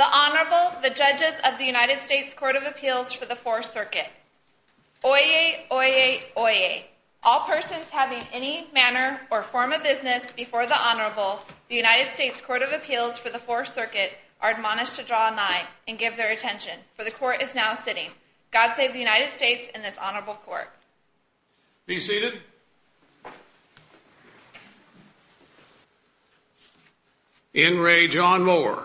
The Honorable, the Judges of the United States Court of Appeals for the Fourth Circuit. Oyez, oyez, oyez. All persons having any manner or form of business before the Honorable, the United States Court of Appeals for the Fourth Circuit, are admonished to draw a nine and give their attention, for the Court is now sitting. God save the United States and this Honorable Court. Be seated. In re. John Moore.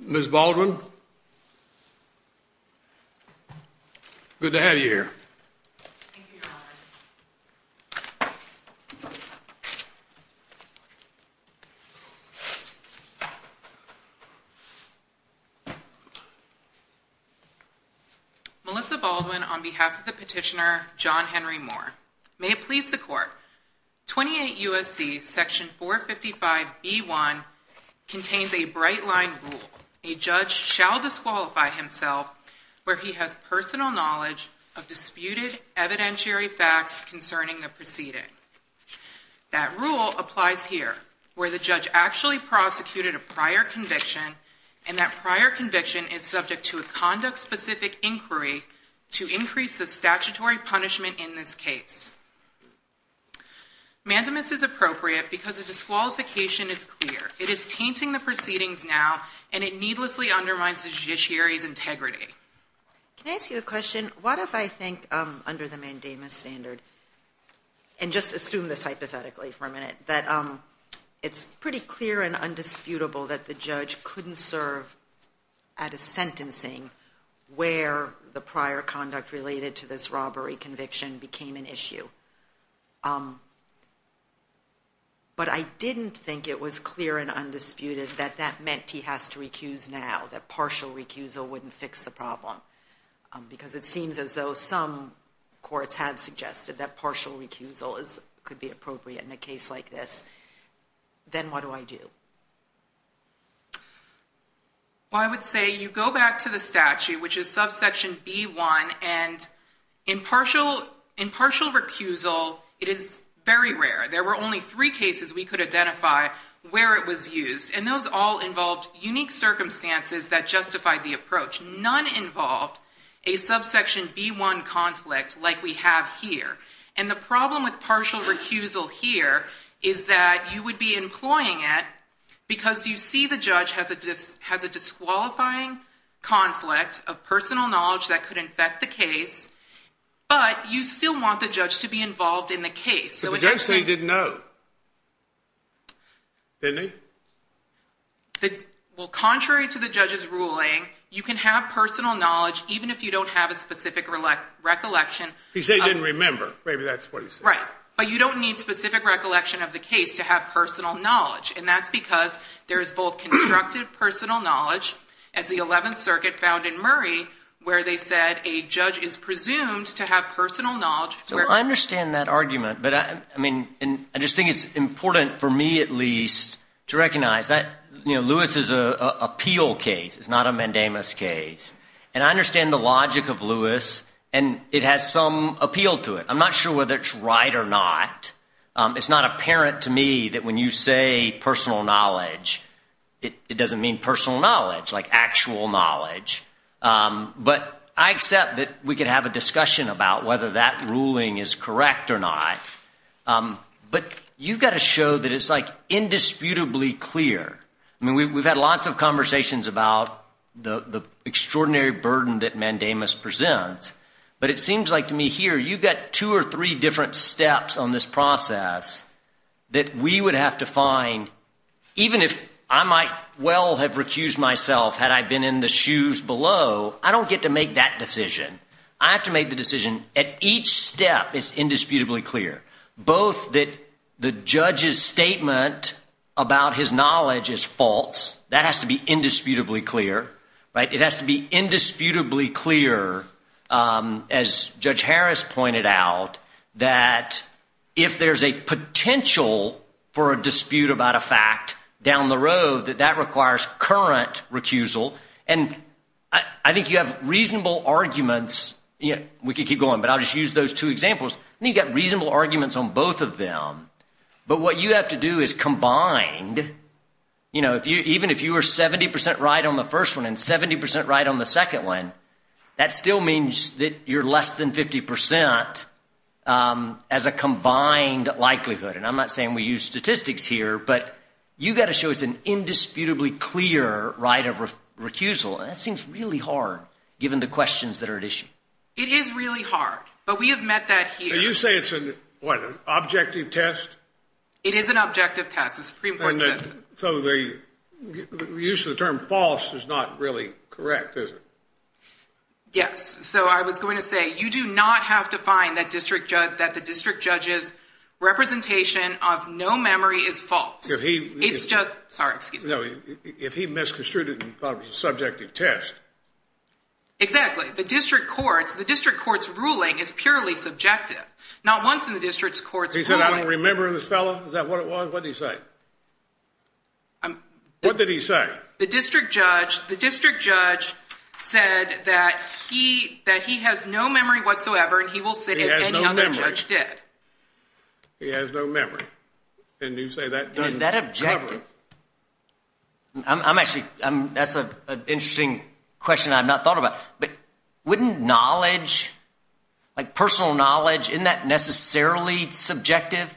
Ms. Baldwin. Good to have you here. Melissa Baldwin on behalf of the petitioner John Henry Moore. May it please the Court. 28 U.S.C. section 455b1 contains a bright line rule. A judge shall disqualify himself where he has personal knowledge of disputed evidentiary facts concerning the proceeding. That rule applies here, where the judge actually prosecuted a prior conviction and that prior specific inquiry to increase the statutory punishment in this case. Mandamus is appropriate because the disqualification is clear. It is tainting the proceedings now and it needlessly undermines the judiciary's integrity. Can I ask you a question? What if I think under the mandamus standard, and just assume this hypothetically for a prior conduct related to this robbery conviction became an issue. But I didn't think it was clear and undisputed that that meant he has to recuse now, that partial recusal wouldn't fix the problem. Because it seems as though some courts have suggested that partial recusal could be appropriate in a case like this. Then what do I do? Well, I would say you go back to the statute, which is subsection b1. And in partial recusal, it is very rare. There were only three cases we could identify where it was used. And those all involved unique circumstances that justified the approach. None involved a subsection b1 conflict like we have here. And the problem with partial recusal here is that you would be employing it because you see the judge has a disqualifying conflict of personal knowledge that could infect the case. But you still want the judge to be involved in the case. But the judge said he didn't know. Didn't he? Well, contrary to the judge's ruling, you can have personal knowledge even if you don't have a specific recollection. He said he didn't remember. Maybe that's what he said. Right. But you don't need specific recollection of the case to have personal knowledge. And that's because there is both constructive personal knowledge, as the 11th Circuit found in Murray, where they said a judge is presumed to have personal knowledge. So I understand that argument. But I mean, I just think it's important for me, at least, to recognize that Lewis is an appeal case. It's not a mandamus case. And I understand the logic of Lewis. And it has some appeal to it. I'm not sure whether it's right or not. It's not apparent to me that when you say personal knowledge, it doesn't mean personal knowledge, like actual knowledge. But I accept that we could have a discussion about whether that ruling is correct or not. But you've got to show that it's, like, indisputably clear. I mean, we've had lots of conversations about the extraordinary burden that mandamus presents. But it seems like to me here, you've got two or three different steps on this process that we would have to find, even if I might well have recused myself had I been in the shoes below, I don't get to make that decision. I have to make the decision. At each step, it's indisputably clear, both that the judge's statement about his knowledge is false. That has to be indisputably clear. It has to be indisputably clear, as Judge Harris pointed out, that if there's a potential for a dispute about a fact down the road, that that requires current recusal. And I think you have reasonable arguments. We could keep going. But I'll just use those two examples. And you've got reasonable arguments on both of them. But what you have to do is combined, you know, even if you were 70% right on the first one and 70% right on the second one, that still means that you're less than 50% as a combined likelihood. And I'm not saying we use statistics here, but you've got to show it's an indisputably clear right of recusal. And that seems really hard, given the questions that are at issue. It is really hard. But we have met that here. So you say it's an, what, an objective test? It is an objective test. The Supreme Court says it. So the use of the term false is not really correct, is it? Yes. So I was going to say, you do not have to find that the district judge's representation of no memory is false. It's just, sorry, excuse me. No, if he misconstrued it and thought it was a subjective test. Exactly. The district court's ruling is purely subjective. Not once in the district court's ruling. He said, I don't remember this fellow. Is that what it was? What did he say? What did he say? The district judge said that he has no memory whatsoever and he will sit as any other judge did. He has no memory. And you say that doesn't cover it. And is that objective? I'm actually, that's an interesting question I've not thought about. But wouldn't knowledge, like personal knowledge, isn't that necessarily subjective?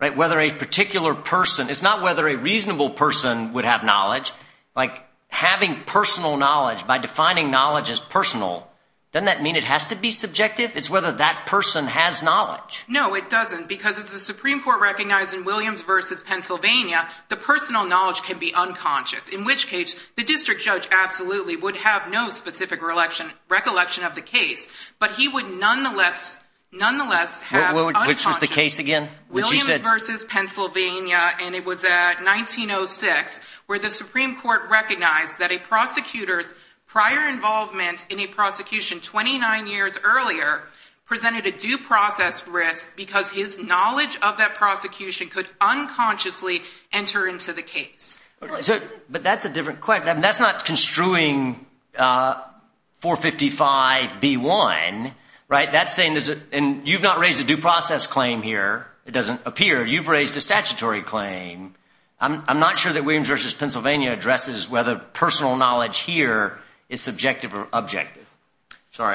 Right? Whether a particular person, it's not whether a reasonable person would have knowledge. Like having personal knowledge, by defining knowledge as personal, doesn't that mean it has to be subjective? It's whether that person has knowledge. No, it doesn't. Because as the Supreme Court recognized in Williams v. Pennsylvania, the personal knowledge can be unconscious. In which case, the district judge absolutely would have no specific recollection of the case. But he would nonetheless have unconscious. Which is the case again? Williams v. Pennsylvania, and it was at 1906, where the Supreme Court recognized that a prosecutor's prior involvement in a prosecution 29 years earlier presented a due process risk because his knowledge of that prosecution could unconsciously enter into the case. But that's a different question. That's not construing 455B1, right? That's saying, and you've not raised a due process claim here. It doesn't appear. You've raised a statutory claim. I'm not sure that Williams v. Pennsylvania addresses whether personal knowledge here Sorry,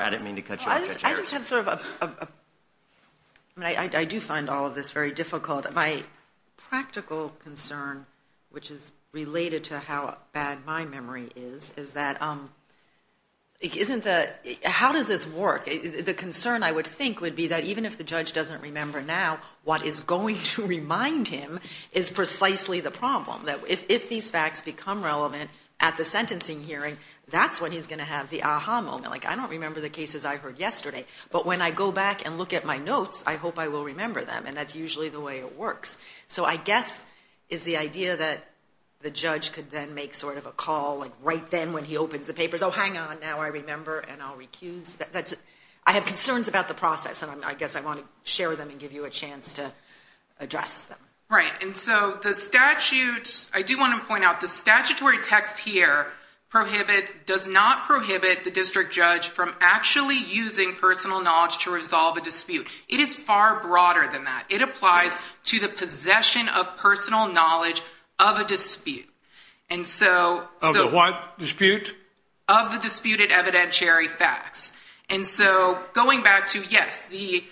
I didn't mean to cut you off. I just have sort of a, I do find all of this very difficult. My practical concern, which is related to how bad my memory is, is that how does this work? The concern I would think would be that even if the judge doesn't remember now, what is going to remind him is precisely the problem. That if these facts become relevant at the sentencing hearing, that's when he's going to have the aha moment. Like, I don't remember the cases I heard yesterday. But when I go back and look at my notes, I hope I will remember them. And that's usually the way it works. So I guess is the idea that the judge could then make sort of a call right then when he opens the papers. Oh, hang on. Now I remember. And I'll recuse. I have concerns about the process. And I guess I want to share them and give you a chance to address them. Right. And so the statute, I do want to point out the statutory text here prohibit, does not prohibit the district judge from actually using personal knowledge to resolve a dispute. It is far broader than that. It applies to the possession of personal knowledge of a dispute. And so what dispute of the disputed evidentiary facts. And so going back to, yes, the,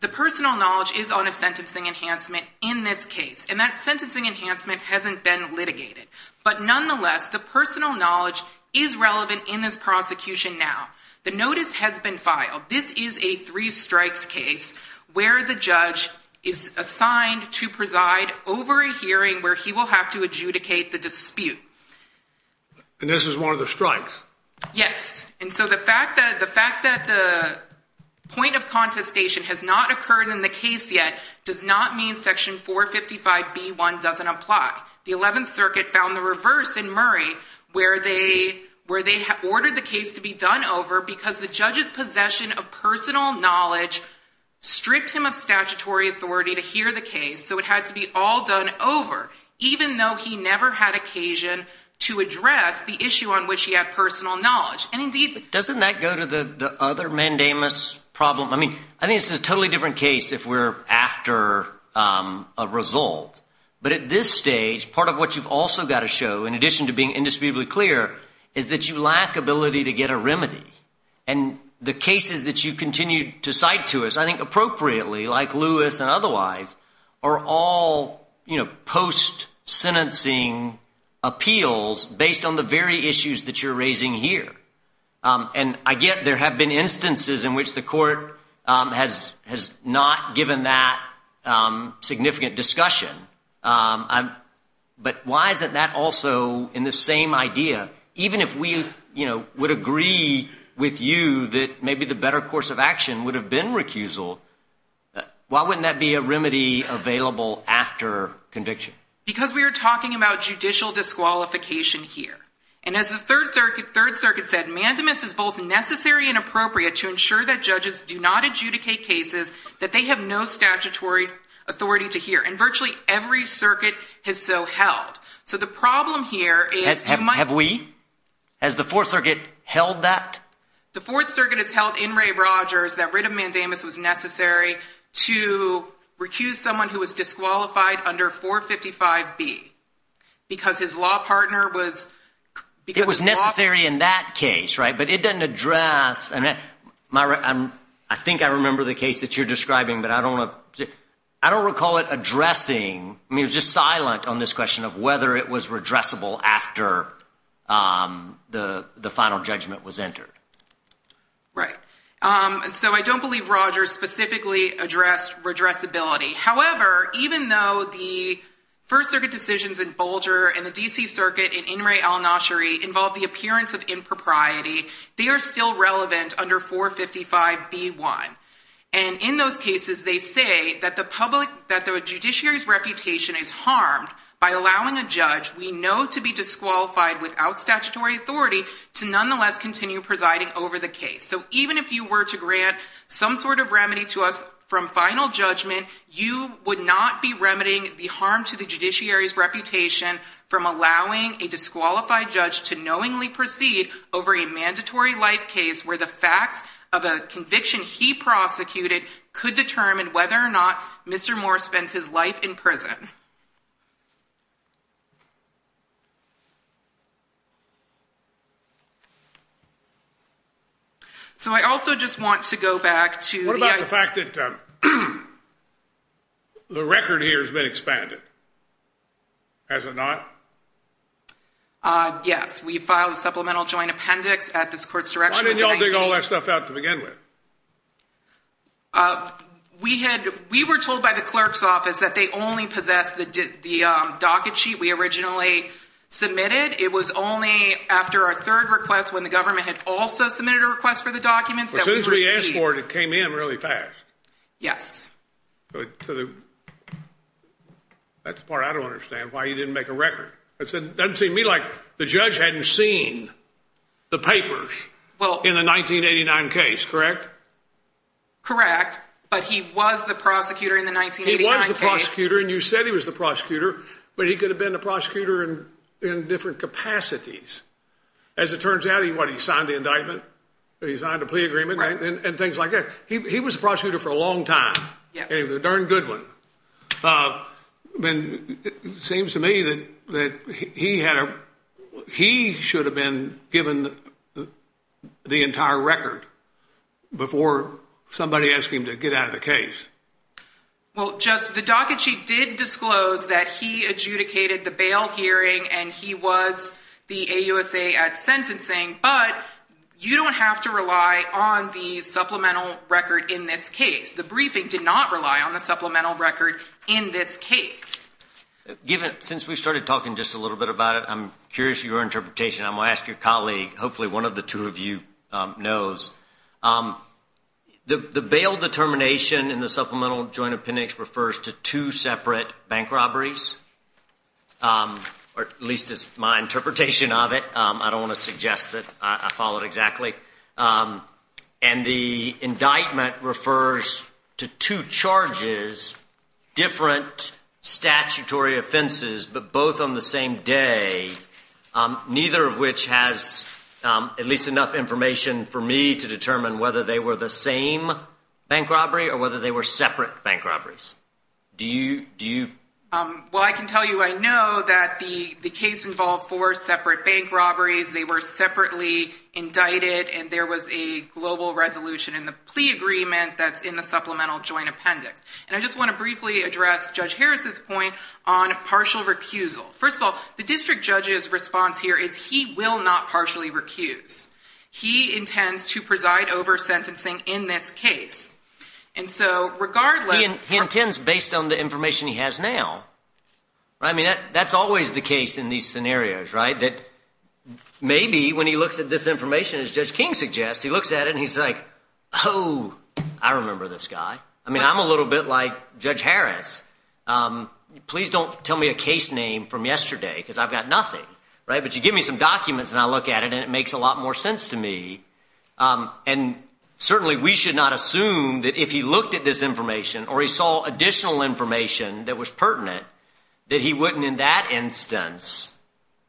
the personal knowledge is on a sentencing enhancement in this case. And that sentencing enhancement hasn't been litigated. But nonetheless, the personal knowledge is relevant in this prosecution. Now, the notice has been filed. This is a three strikes case where the judge is assigned to preside over a hearing where he will have to adjudicate the dispute. And this is one of the strikes. Yes. And so the fact that the fact that the point of contestation has not occurred in the case yet does not mean section 455 B1 doesn't apply. The 11th Circuit found the reverse in Murray, where they, where they ordered the case to be done over because the judge's possession of personal knowledge stripped him of statutory authority to hear the case. So it had to be all done over, even though he never had occasion to address the issue on which he had personal knowledge. And indeed, doesn't that go to the other mandamus problem? I mean, I think this is a totally different case if we're after a result. But at this stage, part of what you've also got to show, in addition to being indisputably clear, is that you lack ability to get a remedy. And the cases that you continue to cite to us, I think appropriately, like Lewis and otherwise, are all, you know, post-sentencing appeals based on the very issues that you're raising here. And I get there have been instances in which the court has, has not given that significant discussion. But why isn't that also in the same idea? Even if we, you know, would agree with you that maybe the better course of action would have been recusal, why wouldn't that be a remedy available after conviction? Because we are talking about judicial disqualification here. And as the Third Circuit, Third Circuit said, mandamus is both necessary and appropriate to ensure that judges do not adjudicate cases that they have no statutory authority to hear. And virtually every circuit has so held. So the problem here is... Have we? Has the Fourth Circuit held that? The Fourth Circuit has held in Ray Rogers that writ of mandamus was necessary to recuse someone who was disqualified under 455B because his law partner was... It was necessary in that case, right? But it doesn't address... I think I remember the case that you're describing, but I don't recall it addressing... I mean, it was just silent on this question of whether it was redressable after the final judgment was entered. Right. And so I don't believe Rogers specifically addressed redressability. However, even though the First Circuit decisions in Bulger and the D.C. Circuit in In Re Al-Nashiri involve the appearance of impropriety, they are still relevant under 455B1. And in those cases, they say that the public... That the judiciary's reputation is harmed by allowing a judge we know to be disqualified without statutory authority to nonetheless continue presiding over the case. So even if you were to grant some sort of remedy to us from final judgment, you would not be remedying the harm to the judiciary's reputation from allowing a disqualified judge to knowingly proceed over a mandatory life case where the facts of a conviction he prosecuted could determine whether or not Mr. Moore spends his life in prison. So I also just want to go back to... What about the fact that the record here has been expanded, has it not? Yes. We filed a supplemental joint appendix at this court's direction. Why didn't y'all dig all that stuff out to begin with? We had... We were told by the clerk's office that they only possessed the docket sheet we originally submitted. It was only after our third request when the government had also submitted a request for the documents that we received... As soon as we asked for it, it came in really fast. Yes. That's the part I don't understand, why you didn't make a record. It doesn't seem to me like the judge hadn't seen the papers in the 1989 case, correct? Correct, but he was the prosecutor in the 1989 case. He was the prosecutor, and you said he was the prosecutor, but he could have been the prosecutor in different capacities. As it turns out, he signed the indictment, he signed a plea agreement, and things like that. He was the prosecutor for a long time, and he was a darn good one. It seems to me that he should have been given the entire record before somebody asked him to get out of the case. Well, the docket sheet did disclose that he adjudicated the bail hearing and he was the case. The briefing did not rely on the supplemental record in this case. Given... Since we've started talking just a little bit about it, I'm curious your interpretation. I'm going to ask your colleague, hopefully one of the two of you knows. The bail determination in the supplemental joint appendix refers to two separate bank robberies, or at least is my interpretation of it. I don't want to suggest that I follow it exactly. And the indictment refers to two charges, different statutory offenses, but both on the same day, neither of which has at least enough information for me to determine whether they were the same bank robbery or whether they were separate bank robberies. Do you... Well, I can tell you I know that the case involved four separate bank robberies. They were separately indicted and there was a global resolution in the plea agreement that's in the supplemental joint appendix. And I just want to briefly address Judge Harris's point on partial recusal. First of all, the district judge's response here is he will not partially recuse. He intends to preside over sentencing in this case. And so regardless... He intends based on the information he has now. I mean, that's always the case in these scenarios, right? That maybe when he looks at this information, as Judge King suggests, he looks at it and he's like, oh, I remember this guy. I mean, I'm a little bit like Judge Harris. Please don't tell me a case name from yesterday because I've got nothing. But you give me some documents and I look at it and it makes a lot more sense to me. And certainly we should not assume that if he looked at this information or he saw additional information that was pertinent that he wouldn't in that instance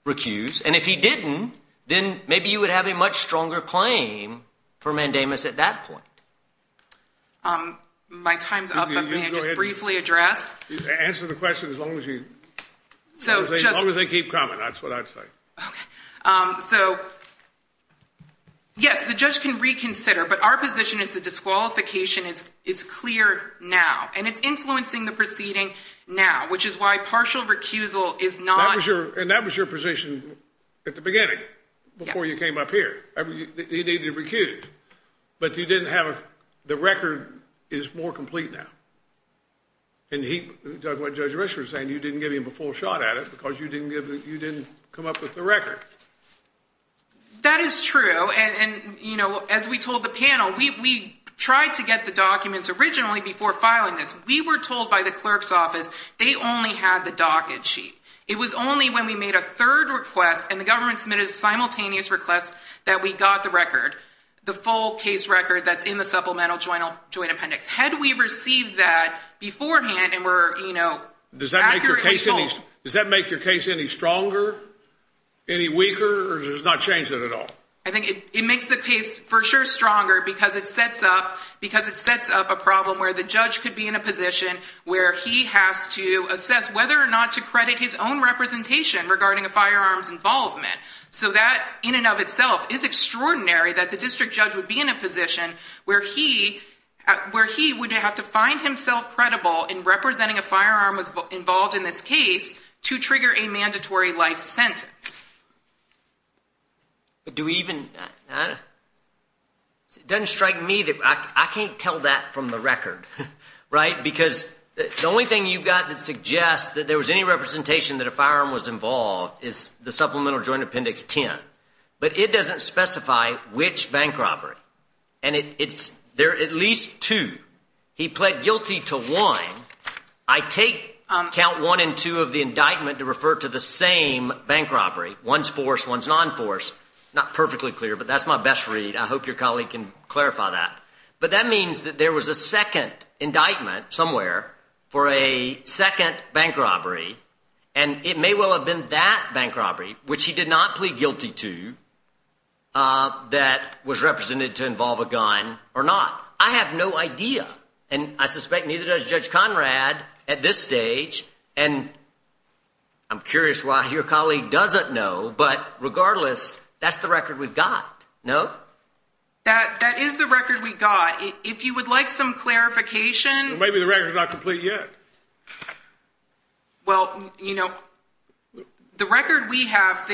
recuse. And if he didn't, then maybe you would have a much stronger claim for mandamus at that point. My time's up. I'm going to just briefly address... Answer the question as long as you... As long as they keep coming, that's what I'd say. So, yes, the judge can reconsider. But our position is the disqualification is clear now. And it's influencing the proceeding now, which is why partial recusal is not... And that was your position at the beginning before you came up here. He needed to recuse it. But you didn't have... The record is more complete now. And he... What Judge Risch was saying, you didn't give him a full shot at it because you didn't give... You didn't come up with the record. That is true. And, you know, as we told the panel, we tried to get the documents originally before filing this. We were told by the clerk's office they only had the docket sheet. It was only when we made a third request and the government submitted a simultaneous request that we got the record, the full case record that's in the supplemental joint appendix. Had we received that beforehand and were, you know, accurately told... Does that make your case any stronger, any weaker, or does it not change it at all? I think it makes the case for sure stronger because it sets up a problem where the judge could be in a position where he has to assess whether or not to credit his own representation regarding a firearm's involvement. So that, in and of itself, is extraordinary that the district judge would be in a position where he would have to find himself credible in representing a firearm involved in this case to trigger a mandatory life sentence. But do we even... It doesn't strike me that... I can't tell that from the record, right? Because the only thing you've got that suggests that there was any representation that a firearm was involved is the supplemental joint appendix 10. But it doesn't specify which bank robbery. And it's... There are at least two. He pled guilty to one. I take count one and two of the indictment to refer to the same bank robbery. One's forced, one's non-forced. Not perfectly clear, but that's my best read. I hope your colleague can clarify that. But that means that there was a second indictment somewhere for a second bank robbery, and it may well have been that bank robbery, which he did not plead guilty to, that was represented to involve a gun or not. I have no idea. And I suspect neither does Judge Conrad at this stage. And I'm curious why your colleague doesn't know. But regardless, that's the record we've got, no? That is the record we've got. If you would like some clarification... Maybe the record's not complete yet. Well, you know, the record we have,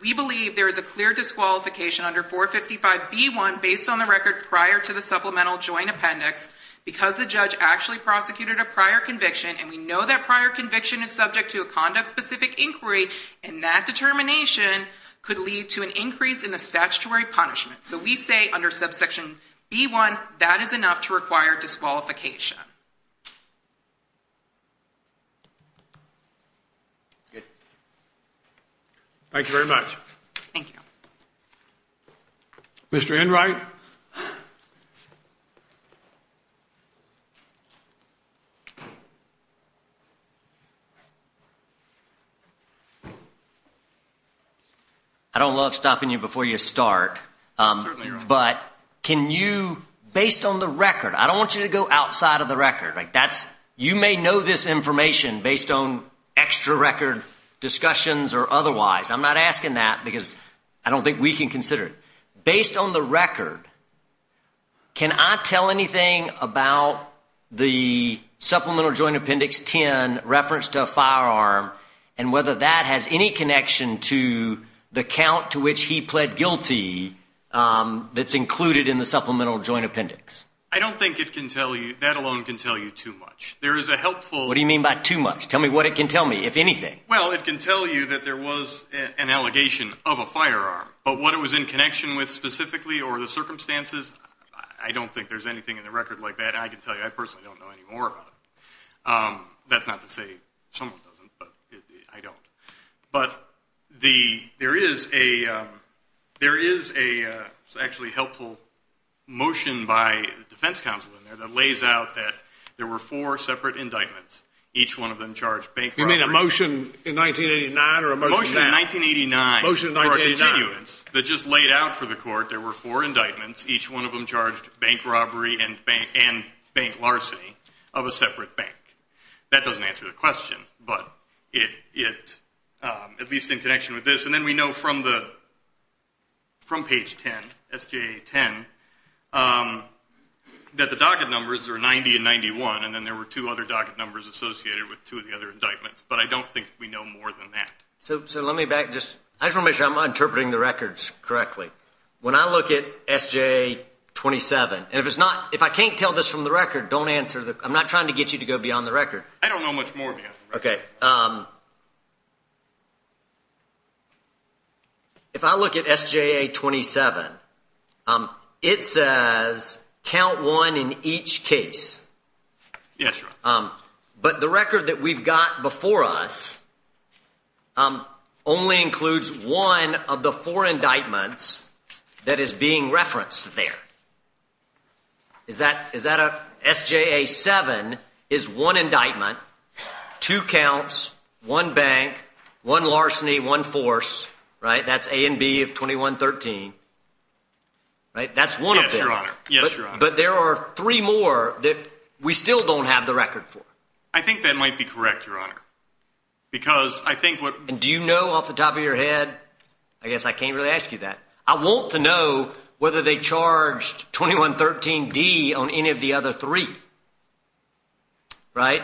we believe there is a clear disqualification under 455B1 based on the record prior to the supplemental joint appendix because the judge actually prosecuted a prior conviction, and we know that prior conviction is subject to a conduct-specific inquiry, and that determination could lead to an increase in the statutory punishment. So we say under subsection B1 that is enough to require disqualification. Good. Thank you very much. Thank you. Mr. Enright? I don't love stopping you before you start. Certainly not. But can you, based on the record, I don't want you to go outside of the record. You may know this information based on extra record discussions or otherwise. I'm not asking that because I don't think we can consider it. Based on the record, can I tell anything about the supplemental joint appendix 10 reference to a firearm and whether that has any connection to the count to which he pled guilty that's included in the supplemental joint appendix? I don't think it can tell you. That alone can tell you too much. What do you mean by too much? Tell me what it can tell me, if anything. Well, it can tell you that there was an allegation of a firearm, but what it was in connection with specifically or the circumstances, I don't think there's anything in the record like that I can tell you. I personally don't know any more about it. That's not to say someone doesn't, but I don't. But there is a actually helpful motion by the defense counsel in there that lays out that there were four separate indictments, each one of them charged bank robbery. You mean a motion in 1989 or a motion now? A motion in 1989 for a continuance that just laid out for the court there were four indictments, each one of them charged bank robbery and bank larceny of a separate bank. That doesn't answer the question, but at least in connection with this, and then we know from page 10, S.J. 10, that the docket numbers are 90 and 91, and then there were two other docket numbers associated with two of the other indictments. But I don't think we know more than that. So let me back. I just want to make sure I'm interpreting the records correctly. When I look at S.J. 27, and if I can't tell this from the record, I'm not trying to get you to go beyond the record. I don't know much more beyond the record. Okay. If I look at S.J. 27, it says count one in each case. Yes, sir. But the record that we've got before us only includes one of the four indictments that is being referenced there. S.J. 7 is one indictment, two counts, one bank, one larceny, one force. That's A and B of 2113. That's one of them. Yes, Your Honor. But there are three more that we still don't have the record for. I think that might be correct, Your Honor. Do you know off the top of your head? I guess I can't really ask you that. I want to know whether they charged 2113D on any of the other three, right?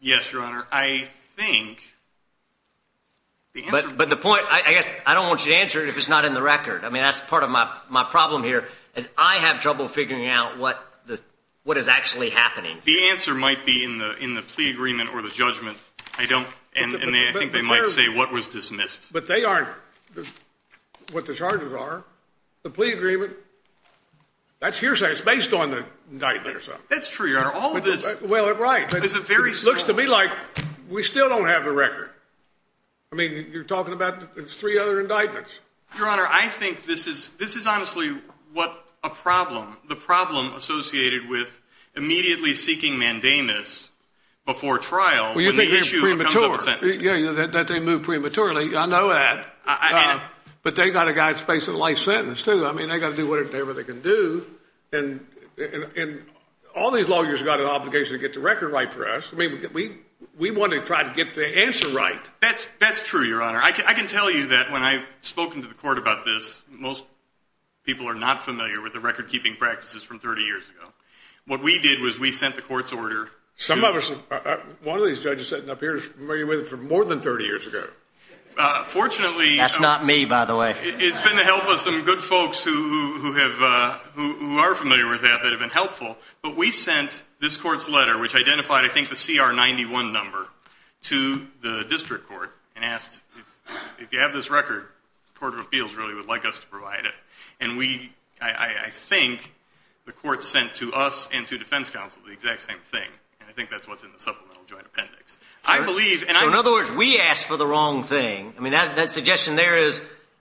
Yes, Your Honor. I think the answer is no. But the point, I guess I don't want you to answer it if it's not in the record. I mean, that's part of my problem here is I have trouble figuring out what is actually happening. The answer might be in the plea agreement or the judgment. I think they might say what was dismissed. But they aren't what the charges are. The plea agreement, that's hearsay. It's based on the indictment or something. That's true, Your Honor. Well, right. It looks to me like we still don't have the record. I mean, you're talking about three other indictments. Your Honor, I think this is honestly what a problem, Yeah, that they moved prematurely. I know that. But they've got a guy that's facing a life sentence, too. I mean, they've got to do whatever they can do. And all these lawyers have got an obligation to get the record right for us. I mean, we want to try to get the answer right. That's true, Your Honor. I can tell you that when I've spoken to the court about this, most people are not familiar with the record-keeping practices from 30 years ago. What we did was we sent the court's order. One of these judges sitting up here is familiar with it from more than 30 years ago. Fortunately, That's not me, by the way. It's been the help of some good folks who are familiar with that that have been helpful. But we sent this court's letter, which identified, I think, the CR-91 number, to the district court and asked, if you have this record, the Court of Appeals really would like us to provide it. I think the court sent to us and to defense counsel the exact same thing. I think that's what's in the supplemental joint appendix. In other words, we asked for the wrong thing. I mean, that suggestion there is,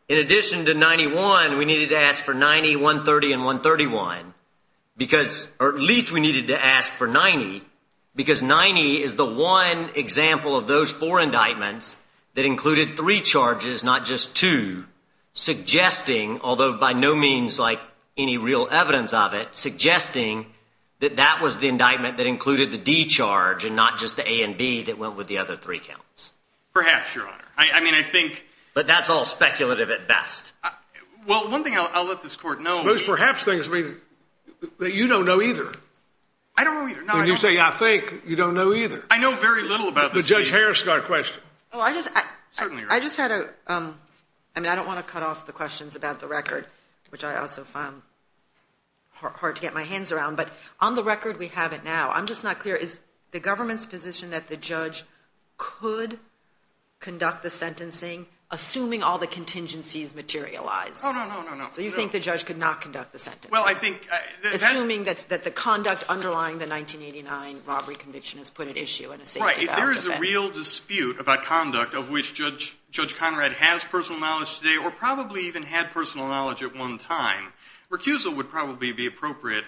in addition to 91, we needed to ask for 90, 130, and 131. Or at least we needed to ask for 90, because 90 is the one example of those four indictments that included three charges, not just two, suggesting, although by no means like any real evidence of it, suggesting that that was the indictment that included the D charge and not just the A and B that went with the other three counts. Perhaps, Your Honor. I mean, I think... But that's all speculative at best. Well, one thing I'll let this court know... Those perhaps things that you don't know either. I don't know either. When you say, I think, you don't know either. I know very little about this case. But Judge Harris has got a question. Oh, I just... Certainly, Your Honor. I just had a... I mean, I don't want to cut off the questions about the record, which I also found hard to get my hands around. But on the record, we have it now. I'm just not clear. Is the government's position that the judge could conduct the sentencing, assuming all the contingencies materialize? Oh, no, no, no, no. So you think the judge could not conduct the sentencing? Well, I think... Assuming that the conduct underlying the 1989 robbery conviction has put at issue in a safety-bound event. If there is a real dispute about conduct of which Judge Conrad has personal knowledge today or probably even had personal knowledge at one time, recusal would probably be appropriate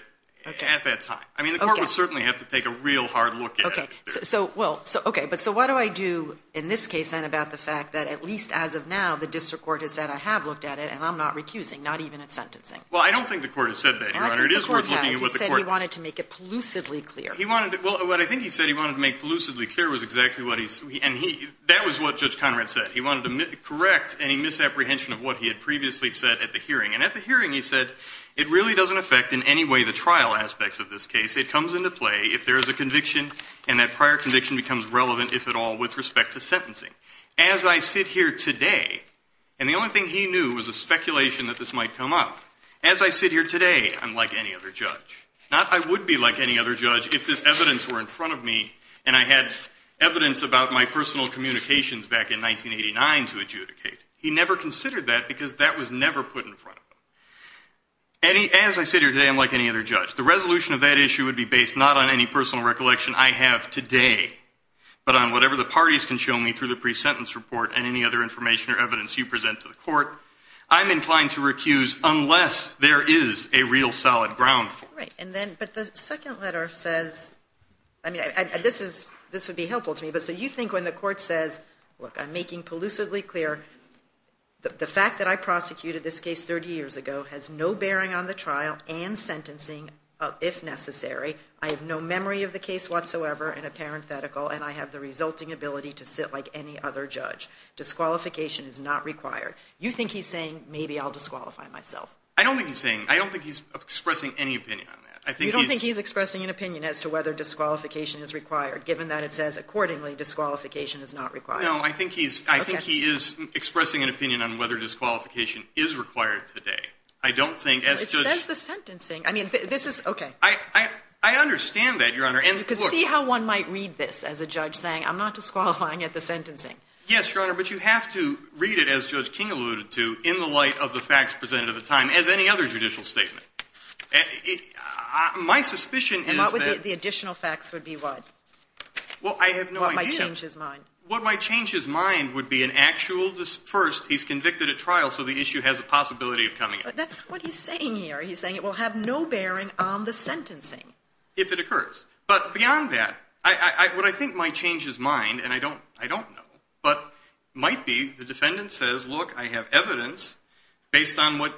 at that time. I mean, the court would certainly have to take a real hard look at it. Okay. But so what do I do in this case then about the fact that, at least as of now, the district court has said, I have looked at it and I'm not recusing, not even at sentencing? Well, I don't think the court has said that, Your Honor. The court has. It is worth looking at what the court... He said he wanted to make it pollucively clear. He wanted to... Well, what I think he said he wanted to make pollucively clear was exactly what he... And he... That was what Judge Conrad said. He wanted to correct any misapprehension of what he had previously said at the hearing. And at the hearing, he said, it really doesn't affect in any way the trial aspects of this case. It comes into play if there is a conviction and that prior conviction becomes relevant, if at all, with respect to sentencing. As I sit here today... And the only thing he knew was a speculation that this might come up. As I sit here today, I'm like any other judge. Not I would be like any other judge if this evidence were in front of me and I had evidence about my personal communications back in 1989 to adjudicate. He never considered that because that was never put in front of him. As I sit here today, I'm like any other judge. The resolution of that issue would be based not on any personal recollection I have today but on whatever the parties can show me through the pre-sentence report and any other information or evidence you present to the court. All right. But the second letter says... I mean, this would be helpful to me. So you think when the court says, look, I'm making pollusively clear the fact that I prosecuted this case 30 years ago has no bearing on the trial and sentencing, if necessary. I have no memory of the case whatsoever in a parenthetical and I have the resulting ability to sit like any other judge. Disqualification is not required. You think he's saying, maybe I'll disqualify myself. I don't think he's saying, I don't think he's expressing any opinion on that. You don't think he's expressing an opinion as to whether disqualification is required given that it says accordingly disqualification is not required. No, I think he is expressing an opinion on whether disqualification is required today. I don't think as judge... It says the sentencing. I mean, this is, okay. I understand that, Your Honor. You can see how one might read this as a judge saying, I'm not disqualifying at the sentencing. Yes, Your Honor, but you have to read it as Judge King alluded to in the light of the facts presented at the time as any other judicial statement. My suspicion is that... And what would the additional facts would be what? Well, I have no idea. What might change his mind. What might change his mind would be an actual, first, he's convicted at trial so the issue has a possibility of coming up. But that's what he's saying here. He's saying it will have no bearing on the sentencing. If it occurs. But beyond that, what I think might change his mind, and I don't know, but might be the defendant says, look, I have evidence based on what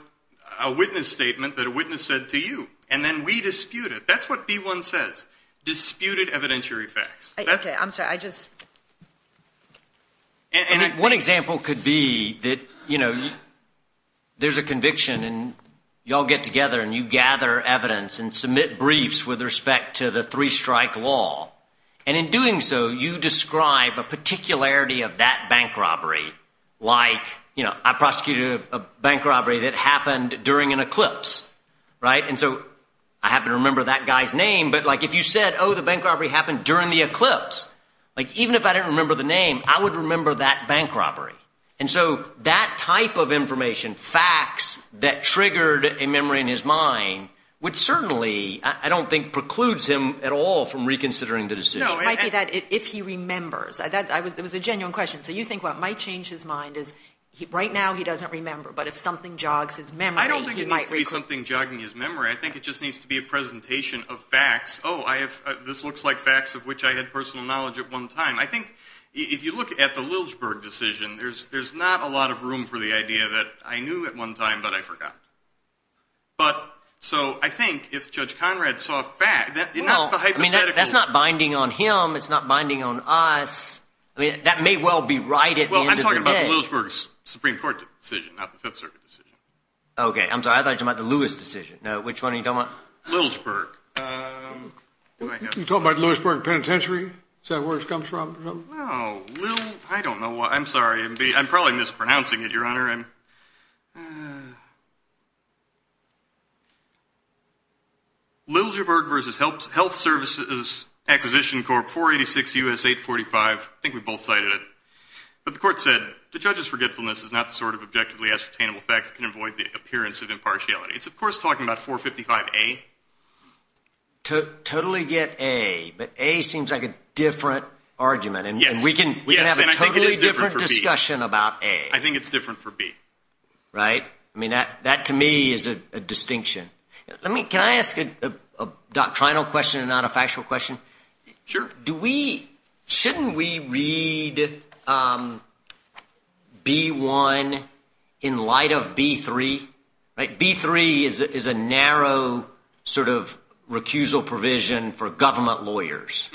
a witness statement that a witness said to you. And then we dispute it. That's what B1 says. Disputed evidentiary facts. Okay, I'm sorry. I just... One example could be that, you know, there's a conviction and you all get together and you gather evidence and submit briefs with respect to the three-strike law. And in doing so, you describe a particularity of that bank robbery. Like, you know, I prosecuted a bank robbery that happened during an eclipse. Right? And so I happen to remember that guy's name. But, like, if you said, oh, the bank robbery happened during the eclipse. Like, even if I didn't remember the name, I would remember that bank robbery. And so that type of information, facts that triggered a memory in his mind, which certainly I don't think precludes him at all from reconsidering the decision. No, it might be that if he remembers. It was a genuine question. So you think what might change his mind is right now he doesn't remember, but if something jogs his memory, he might recall. I don't think it needs to be something jogging his memory. I think it just needs to be a presentation of facts. Oh, this looks like facts of which I had personal knowledge at one time. I think if you look at the Lilsberg decision, But so I think if Judge Conrad saw facts, you know, the hypothetical. Well, I mean, that's not binding on him. It's not binding on us. I mean, that may well be right at the end of the day. Well, I'm talking about the Lilsberg Supreme Court decision, not the Fifth Circuit decision. Okay, I'm sorry. I thought you meant the Lewis decision. No, which one are you talking about? Lilsberg. You talking about the Lilsberg Penitentiary? Is that where it comes from? Oh, well, I don't know. I'm sorry. I'm probably mispronouncing it, Your Honor. Lilsberg v. Health Services Acquisition Corp. 486 U.S. 845. I think we both cited it. But the court said, The judge's forgetfulness is not the sort of objectively ascertainable fact that can avoid the appearance of impartiality. It's, of course, talking about 455A. Totally get A. But A seems like a different argument. And we can have a totally different discussion about A. I think it's different for B. Right? I mean, that to me is a distinction. Can I ask a doctrinal question and not a factual question? Sure. Shouldn't we read B-1 in light of B-3? B-3 is a narrow sort of recusal provision for government lawyers.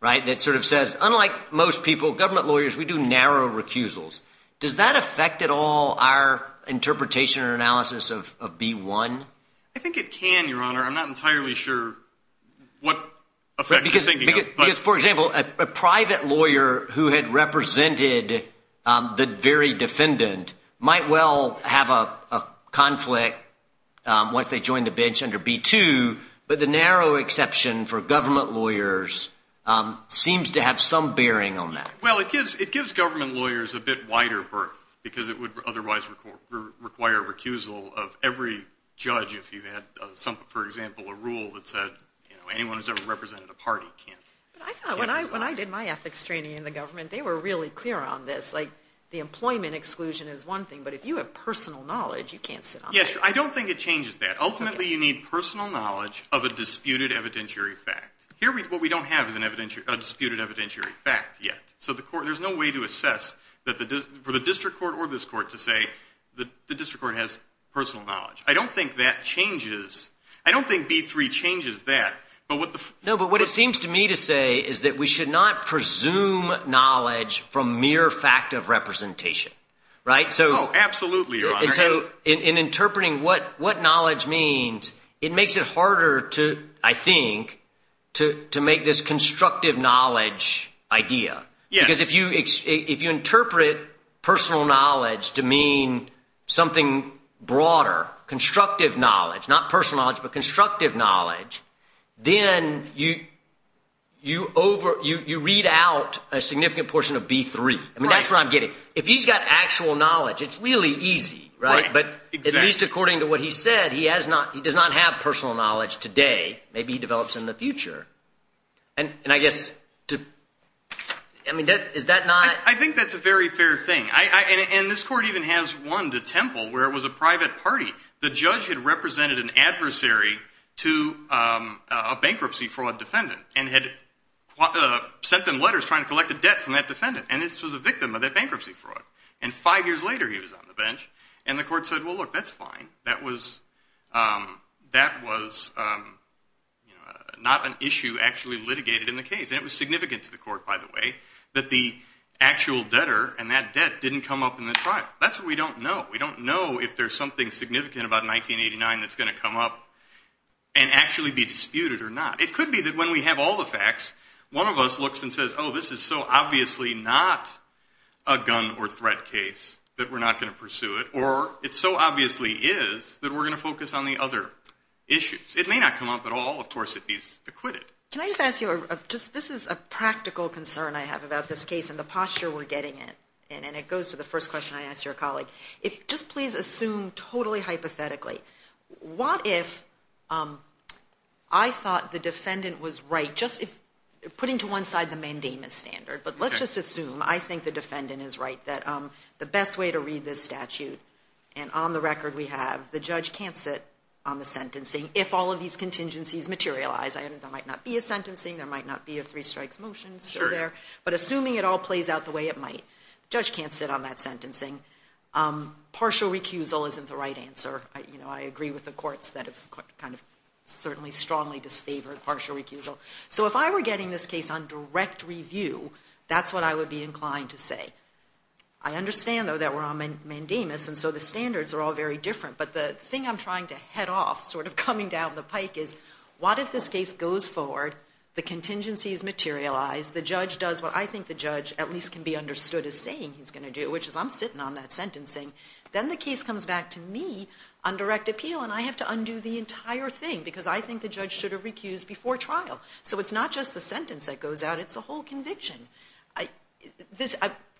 Right? That sort of says, unlike most people, government lawyers, we do narrow recusals. Does that affect at all our interpretation or analysis of B-1? I think it can, Your Honor. I'm not entirely sure what effect you're thinking of. Because, for example, a private lawyer who had represented the very defendant might well have a conflict once they join the bench under B-2. But the narrow exception for government lawyers seems to have some bearing on that. Well, it gives government lawyers a bit wider berth because it would otherwise require a recusal of every judge. If you had, for example, a rule that said anyone who's ever represented a party can't. When I did my ethics training in the government, they were really clear on this. Like, the employment exclusion is one thing. But if you have personal knowledge, you can't sit on that. Yes. I don't think it changes that. Ultimately, you need personal knowledge of a disputed evidentiary fact. Here, what we don't have is a disputed evidentiary fact yet. So there's no way to assess for the district court or this court to say the district court has personal knowledge. I don't think that changes. I don't think B-3 changes that. No, but what it seems to me to say is that we should not presume knowledge from mere fact of representation. Oh, absolutely, Your Honor. And so in interpreting what knowledge means, it makes it harder to, I think, to make this constructive knowledge idea. Yes. Because if you interpret personal knowledge to mean something broader, constructive knowledge, not personal knowledge, but constructive knowledge, then you read out a significant portion of B-3. I mean, that's what I'm getting. If he's got actual knowledge, it's really easy, right? But at least according to what he said, he does not have personal knowledge today. Maybe he develops in the future. And I guess to – I mean, is that not – I think that's a very fair thing. And this court even has one to Temple where it was a private party. The judge had represented an adversary to a bankruptcy fraud defendant and had sent them letters trying to collect a debt from that defendant. And this was a victim of that bankruptcy fraud. And five years later, he was on the bench. And the court said, well, look, that's fine. That was not an issue actually litigated in the case. And it was significant to the court, by the way, that the actual debtor and that debt didn't come up in the trial. That's what we don't know. We don't know if there's something significant about 1989 that's going to come up and actually be disputed or not. It could be that when we have all the facts, one of us looks and says, oh, this is so obviously not a gun or threat case that we're not going to pursue it. Or it so obviously is that we're going to focus on the other issues. It may not come up at all. Of course, if he's acquitted. Can I just ask you – this is a practical concern I have about this case and the posture we're getting in. And it goes to the first question I asked your colleague. If – just please assume totally hypothetically, what if I thought the defendant was right, just putting to one side the mandamus standard. But let's just assume I think the defendant is right. That the best way to read this statute – and on the record we have the judge can't sit on the sentencing if all of these contingencies materialize. There might not be a sentencing. There might not be a three strikes motion still there. Sure. But assuming it all plays out the way it might, the judge can't sit on that sentencing. Partial recusal isn't the right answer. I agree with the courts that it's certainly strongly disfavored partial recusal. So if I were getting this case on direct review, that's what I would be inclined to say. I understand, though, that we're on mandamus and so the standards are all very different. But the thing I'm trying to head off, sort of coming down the pike, is what if this case goes forward, the contingencies materialize, the judge does what I think the judge at least can be understood as saying he's going to do, which is I'm sitting on that sentencing. Then the case comes back to me on direct appeal and I have to undo the entire thing because I think the judge should have recused before trial. So it's not just the sentence that goes out. It's the whole conviction.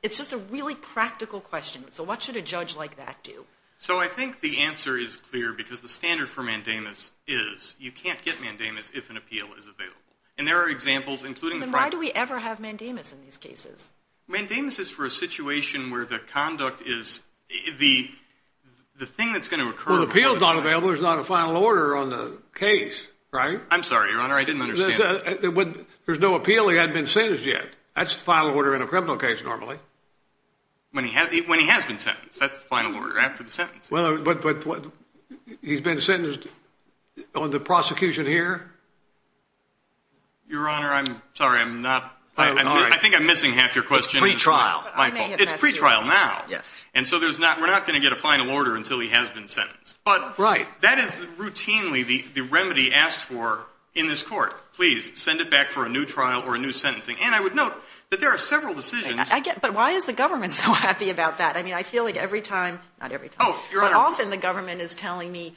It's just a really practical question. So what should a judge like that do? So I think the answer is clear because the standard for mandamus is you can't get mandamus if an appeal is available. And there are examples, including the – Then why do we ever have mandamus in these cases? Mandamus is for a situation where the conduct is – the thing that's going to occur – Well, the appeal is not available. There's not a final order on the case, right? I'm sorry, Your Honor. I didn't understand that. There's no appeal. He hasn't been sentenced yet. That's the final order in a criminal case normally. When he has been sentenced. That's the final order after the sentence. But he's been sentenced on the prosecution here? Your Honor, I'm sorry. I'm not – I think I'm missing half your question. Pre-trial. It's pre-trial now. Yes. And so we're not going to get a final order until he has been sentenced. Right. That is routinely the remedy asked for in this court. Please, send it back for a new trial or a new sentencing. And I would note that there are several decisions – But why is the government so happy about that? I mean, I feel like every time – not every time. Oh, Your Honor. But often the government is telling me,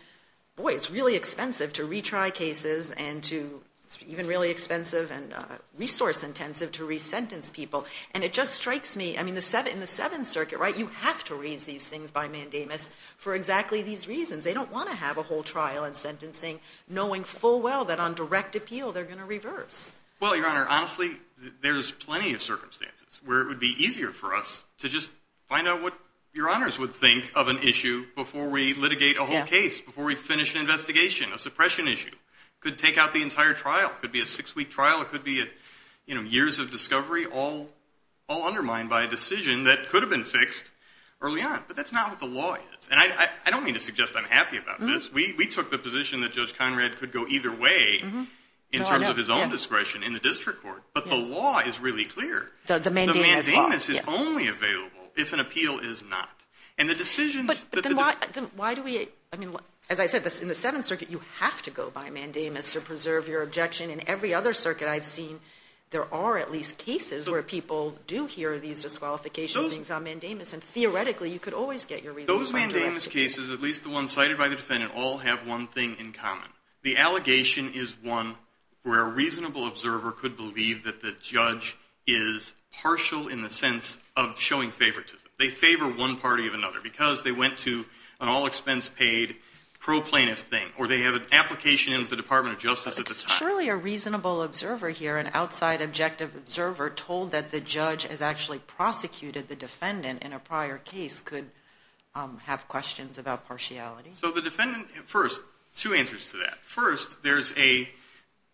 boy, it's really expensive to retry cases and to – it's even really expensive and resource intensive to resentence people. And it just strikes me – I mean, in the Seventh Circuit, right, you have to raise these things by mandamus for exactly these reasons. They don't want to have a whole trial and sentencing knowing full well that on direct appeal they're going to reverse. Well, Your Honor, honestly, there's plenty of circumstances where it would be easier for us to just find out what Your Honors would think of an issue before we litigate a whole case, before we finish an investigation, a suppression issue. It could take out the entire trial. It could be a six-week trial. It could be years of discovery all undermined by a decision that could have been fixed early on. But that's not what the law is. And I don't mean to suggest I'm happy about this. We took the position that Judge Conrad could go either way in terms of his own discretion in the district court. But the law is really clear. The mandamus law. The mandamus is only available if an appeal is not. And the decisions – But then why do we – I mean, as I said, in the Seventh Circuit, you have to go by mandamus to preserve your objection. In every other circuit I've seen, there are at least cases where people do hear these disqualifications on mandamus. And theoretically, you could always get your reasons. Those mandamus cases, at least the ones cited by the defendant, all have one thing in common. The allegation is one where a reasonable observer could believe that the judge is partial in the sense of showing favoritism. They favor one party or another because they went to an all-expense-paid pro-plaintiff thing. Or they have an application in the Department of Justice at the time. Surely a reasonable observer here, an outside objective observer, told that the judge has actually prosecuted the defendant in a prior case, could have questions about partiality. So the defendant – first, two answers to that. First, there's a –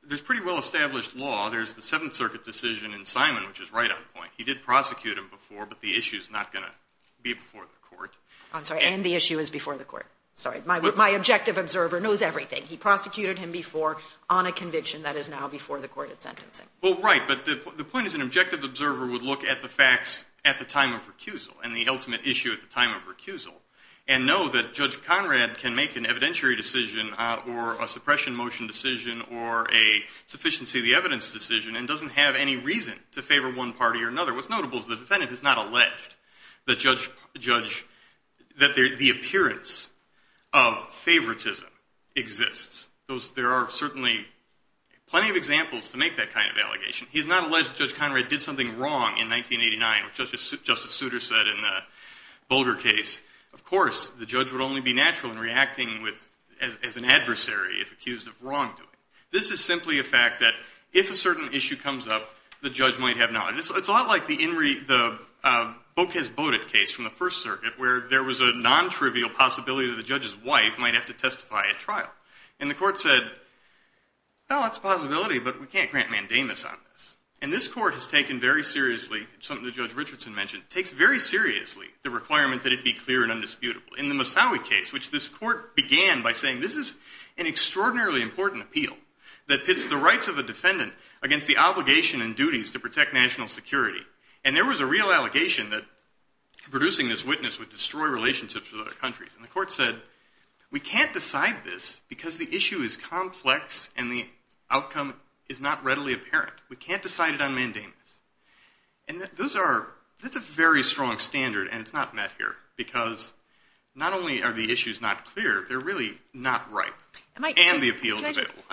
there's pretty well-established law. There's the Seventh Circuit decision in Simon, which is right on point. He did prosecute him before, but the issue is not going to be before the court. I'm sorry. And the issue is before the court. Sorry. My objective observer knows everything. He prosecuted him before on a conviction that is now before the court at sentencing. Well, right. But the point is an objective observer would look at the facts at the time of recusal and the ultimate issue at the time of recusal and know that Judge Conrad can make an evidentiary decision or a suppression motion decision or a sufficiency of the evidence decision and doesn't have any reason to favor one party or another. What's notable is the defendant has not alleged that the appearance of favoritism exists. There are certainly plenty of examples to make that kind of allegation. He has not alleged that Judge Conrad did something wrong in 1989, which Justice Souter said in the Boulder case. Of course, the judge would only be natural in reacting as an adversary if accused of wrongdoing. This is simply a fact that if a certain issue comes up, the judge might have knowledge. It's a lot like the Bocas-Boda case from the First Circuit where there was a nontrivial possibility that the judge's wife might have to testify at trial. And the court said, well, that's a possibility, but we can't grant mandamus on this. And this court has taken very seriously something that Judge Richardson mentioned. It takes very seriously the requirement that it be clear and undisputable. In the Mosawi case, which this court began by saying this is an extraordinarily important appeal that pits the rights of a defendant against the obligation and duties to protect national security. And there was a real allegation that producing this witness would destroy relationships with other countries. And the court said, we can't decide this because the issue is complex and the outcome is not readily apparent. We can't decide it on mandamus. And that's a very strong standard, and it's not met here. Because not only are the issues not clear, they're really not right. And the appeal.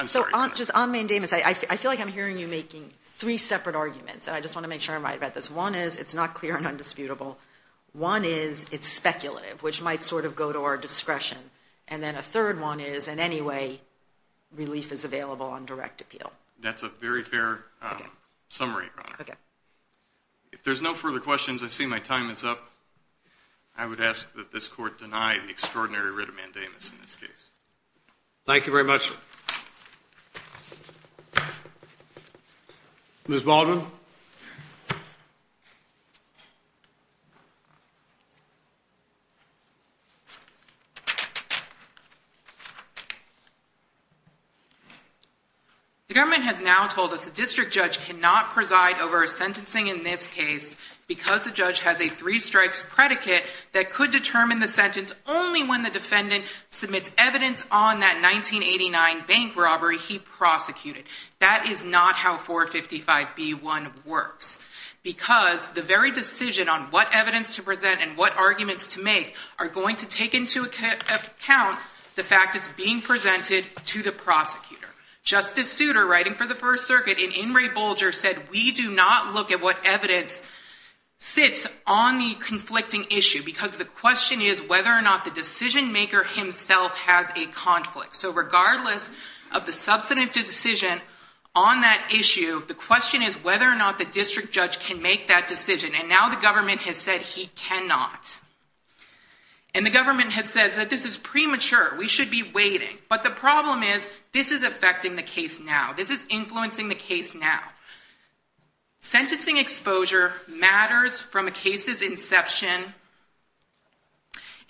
So just on mandamus, I feel like I'm hearing you making three separate arguments, and I just want to make sure I'm right about this. One is it's not clear and undisputable. One is it's speculative, which might sort of go to our discretion. And then a third one is in any way relief is available on direct appeal. That's a very fair summary, Your Honor. Okay. If there's no further questions, I see my time is up. I would ask that this court deny the extraordinary writ of mandamus in this case. Thank you very much. Court is adjourned. Ms. Baldwin. The government has now told us the district judge cannot preside over a sentencing in this case because the judge has a three-strikes predicate that could determine the sentence only when the defendant submits evidence on that 1989 bank robbery he prosecuted. That is not how 455B1 works. Because the very decision on what evidence to present and what arguments to make are going to take into account the fact it's being presented to the prosecutor. Justice Souter, writing for the First Circuit, in In re Bulger, said we do not look at what evidence sits on the conflicting issue because the question is whether or not the decision maker himself has a conflict. So regardless of the substantive decision on that issue, the question is whether or not the district judge can make that decision. And now the government has said he cannot. And the government has said that this is premature. We should be waiting. But the problem is this is affecting the case now. This is influencing the case now. Sentencing exposure matters from a case's inception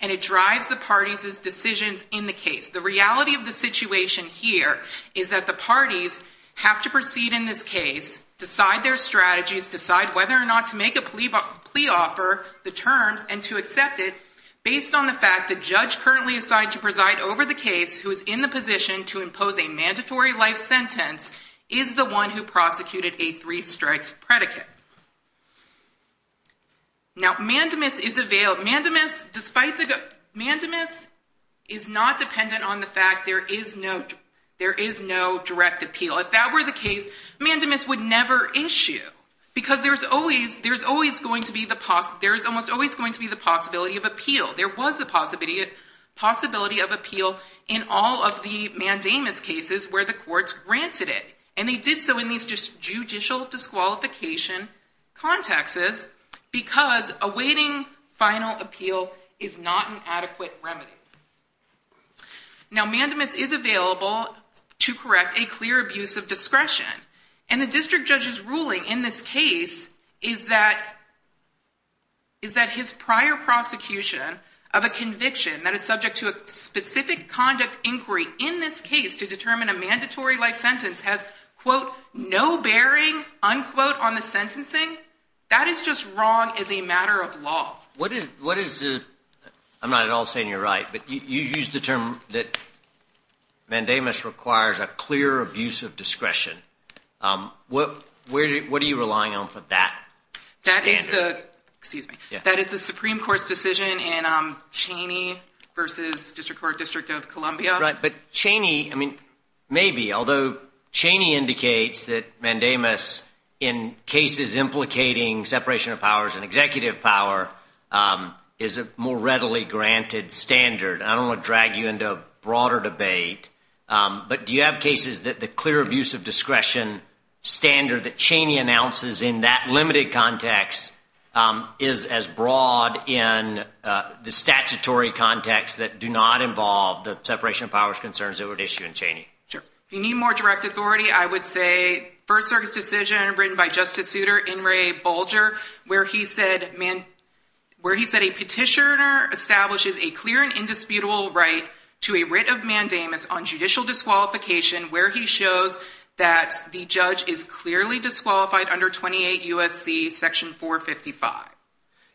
and it drives the parties' decisions in the case. The reality of the situation here is that the parties have to proceed in this case, decide their strategies, decide whether or not to make a plea offer, the terms, and to accept it based on the fact the judge currently assigned to preside over the case who is in the position to impose a mandatory life sentence is the one who prosecuted a three-strikes predicate. Now, mandamus is available. Mandamus is not dependent on the fact there is no direct appeal. If that were the case, mandamus would never issue because there is almost always going to be the possibility of appeal. There was the possibility of appeal in all of the mandamus cases where the courts granted it. And they did so in these judicial disqualification contexts because awaiting final appeal is not an adequate remedy. Now, mandamus is available to correct a clear abuse of discretion. And the district judge's ruling in this case is that his prior prosecution of a conviction that is subject to a specific conduct inquiry in this case to determine a mandatory life sentence has, quote, no bearing, unquote, on the sentencing. That is just wrong as a matter of law. What is the – I'm not at all saying you're right, but you used the term that mandamus requires a clear abuse of discretion. What are you relying on for that standard? That is the – excuse me. That is the Supreme Court's decision in Cheney versus District Court, District of Columbia. But Cheney, I mean, maybe, although Cheney indicates that mandamus in cases implicating separation of powers and executive power is a more readily granted standard. I don't want to drag you into a broader debate, but do you have cases that the clear abuse of discretion standard that Cheney announces in that limited context is as broad in the statutory context that do not involve the separation of powers concerns that were issued in Cheney? Sure. If you need more direct authority, I would say First Circuit's decision written by Justice Souter, N. Ray Bolger, where he said a petitioner establishes a clear and indisputable right to a writ of mandamus on judicial disqualification where he shows that the judge is clearly disqualified under 28 U.S.C. Section 455.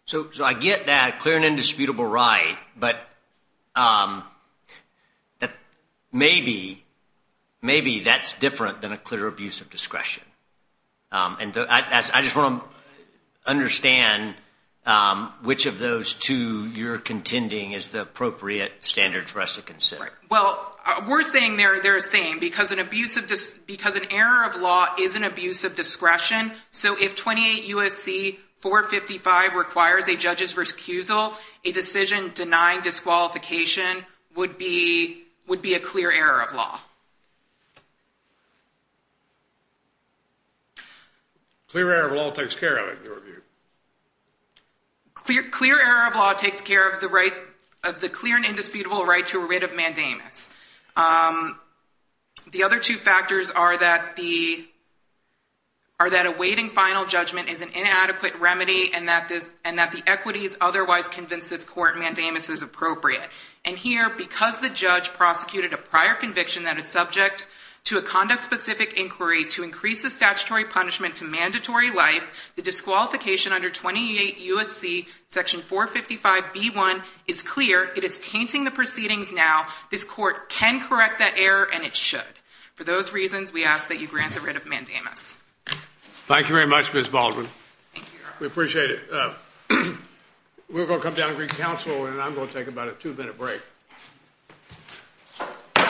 So I get that clear and indisputable right, but maybe that's different than a clear abuse of discretion. I just want to understand which of those two you're contending is the appropriate standard for us to consider. Well, we're saying they're the same because an error of law is an abuse of discretion. So if 28 U.S.C. 455 requires a judge's recusal, a decision denying disqualification would be a clear error of law. Clear error of law takes care of it, in your view. Clear error of law takes care of the clear and indisputable right to a writ of mandamus. The other two factors are that awaiting final judgment is an inadequate remedy and that the equities otherwise convince this court mandamus is appropriate. And here, because the judge prosecuted a prior conviction that is subject to a conduct-specific inquiry to increase the statutory punishment to mandatory life, the disqualification under 28 U.S.C. Section 455b1 is clear. It is tainting the proceedings now. This court can correct that error, and it should. For those reasons, we ask that you grant the writ of mandamus. Thank you very much, Ms. Baldwin. We appreciate it. We're going to come down and greet counsel, and I'm going to take about a two-minute break.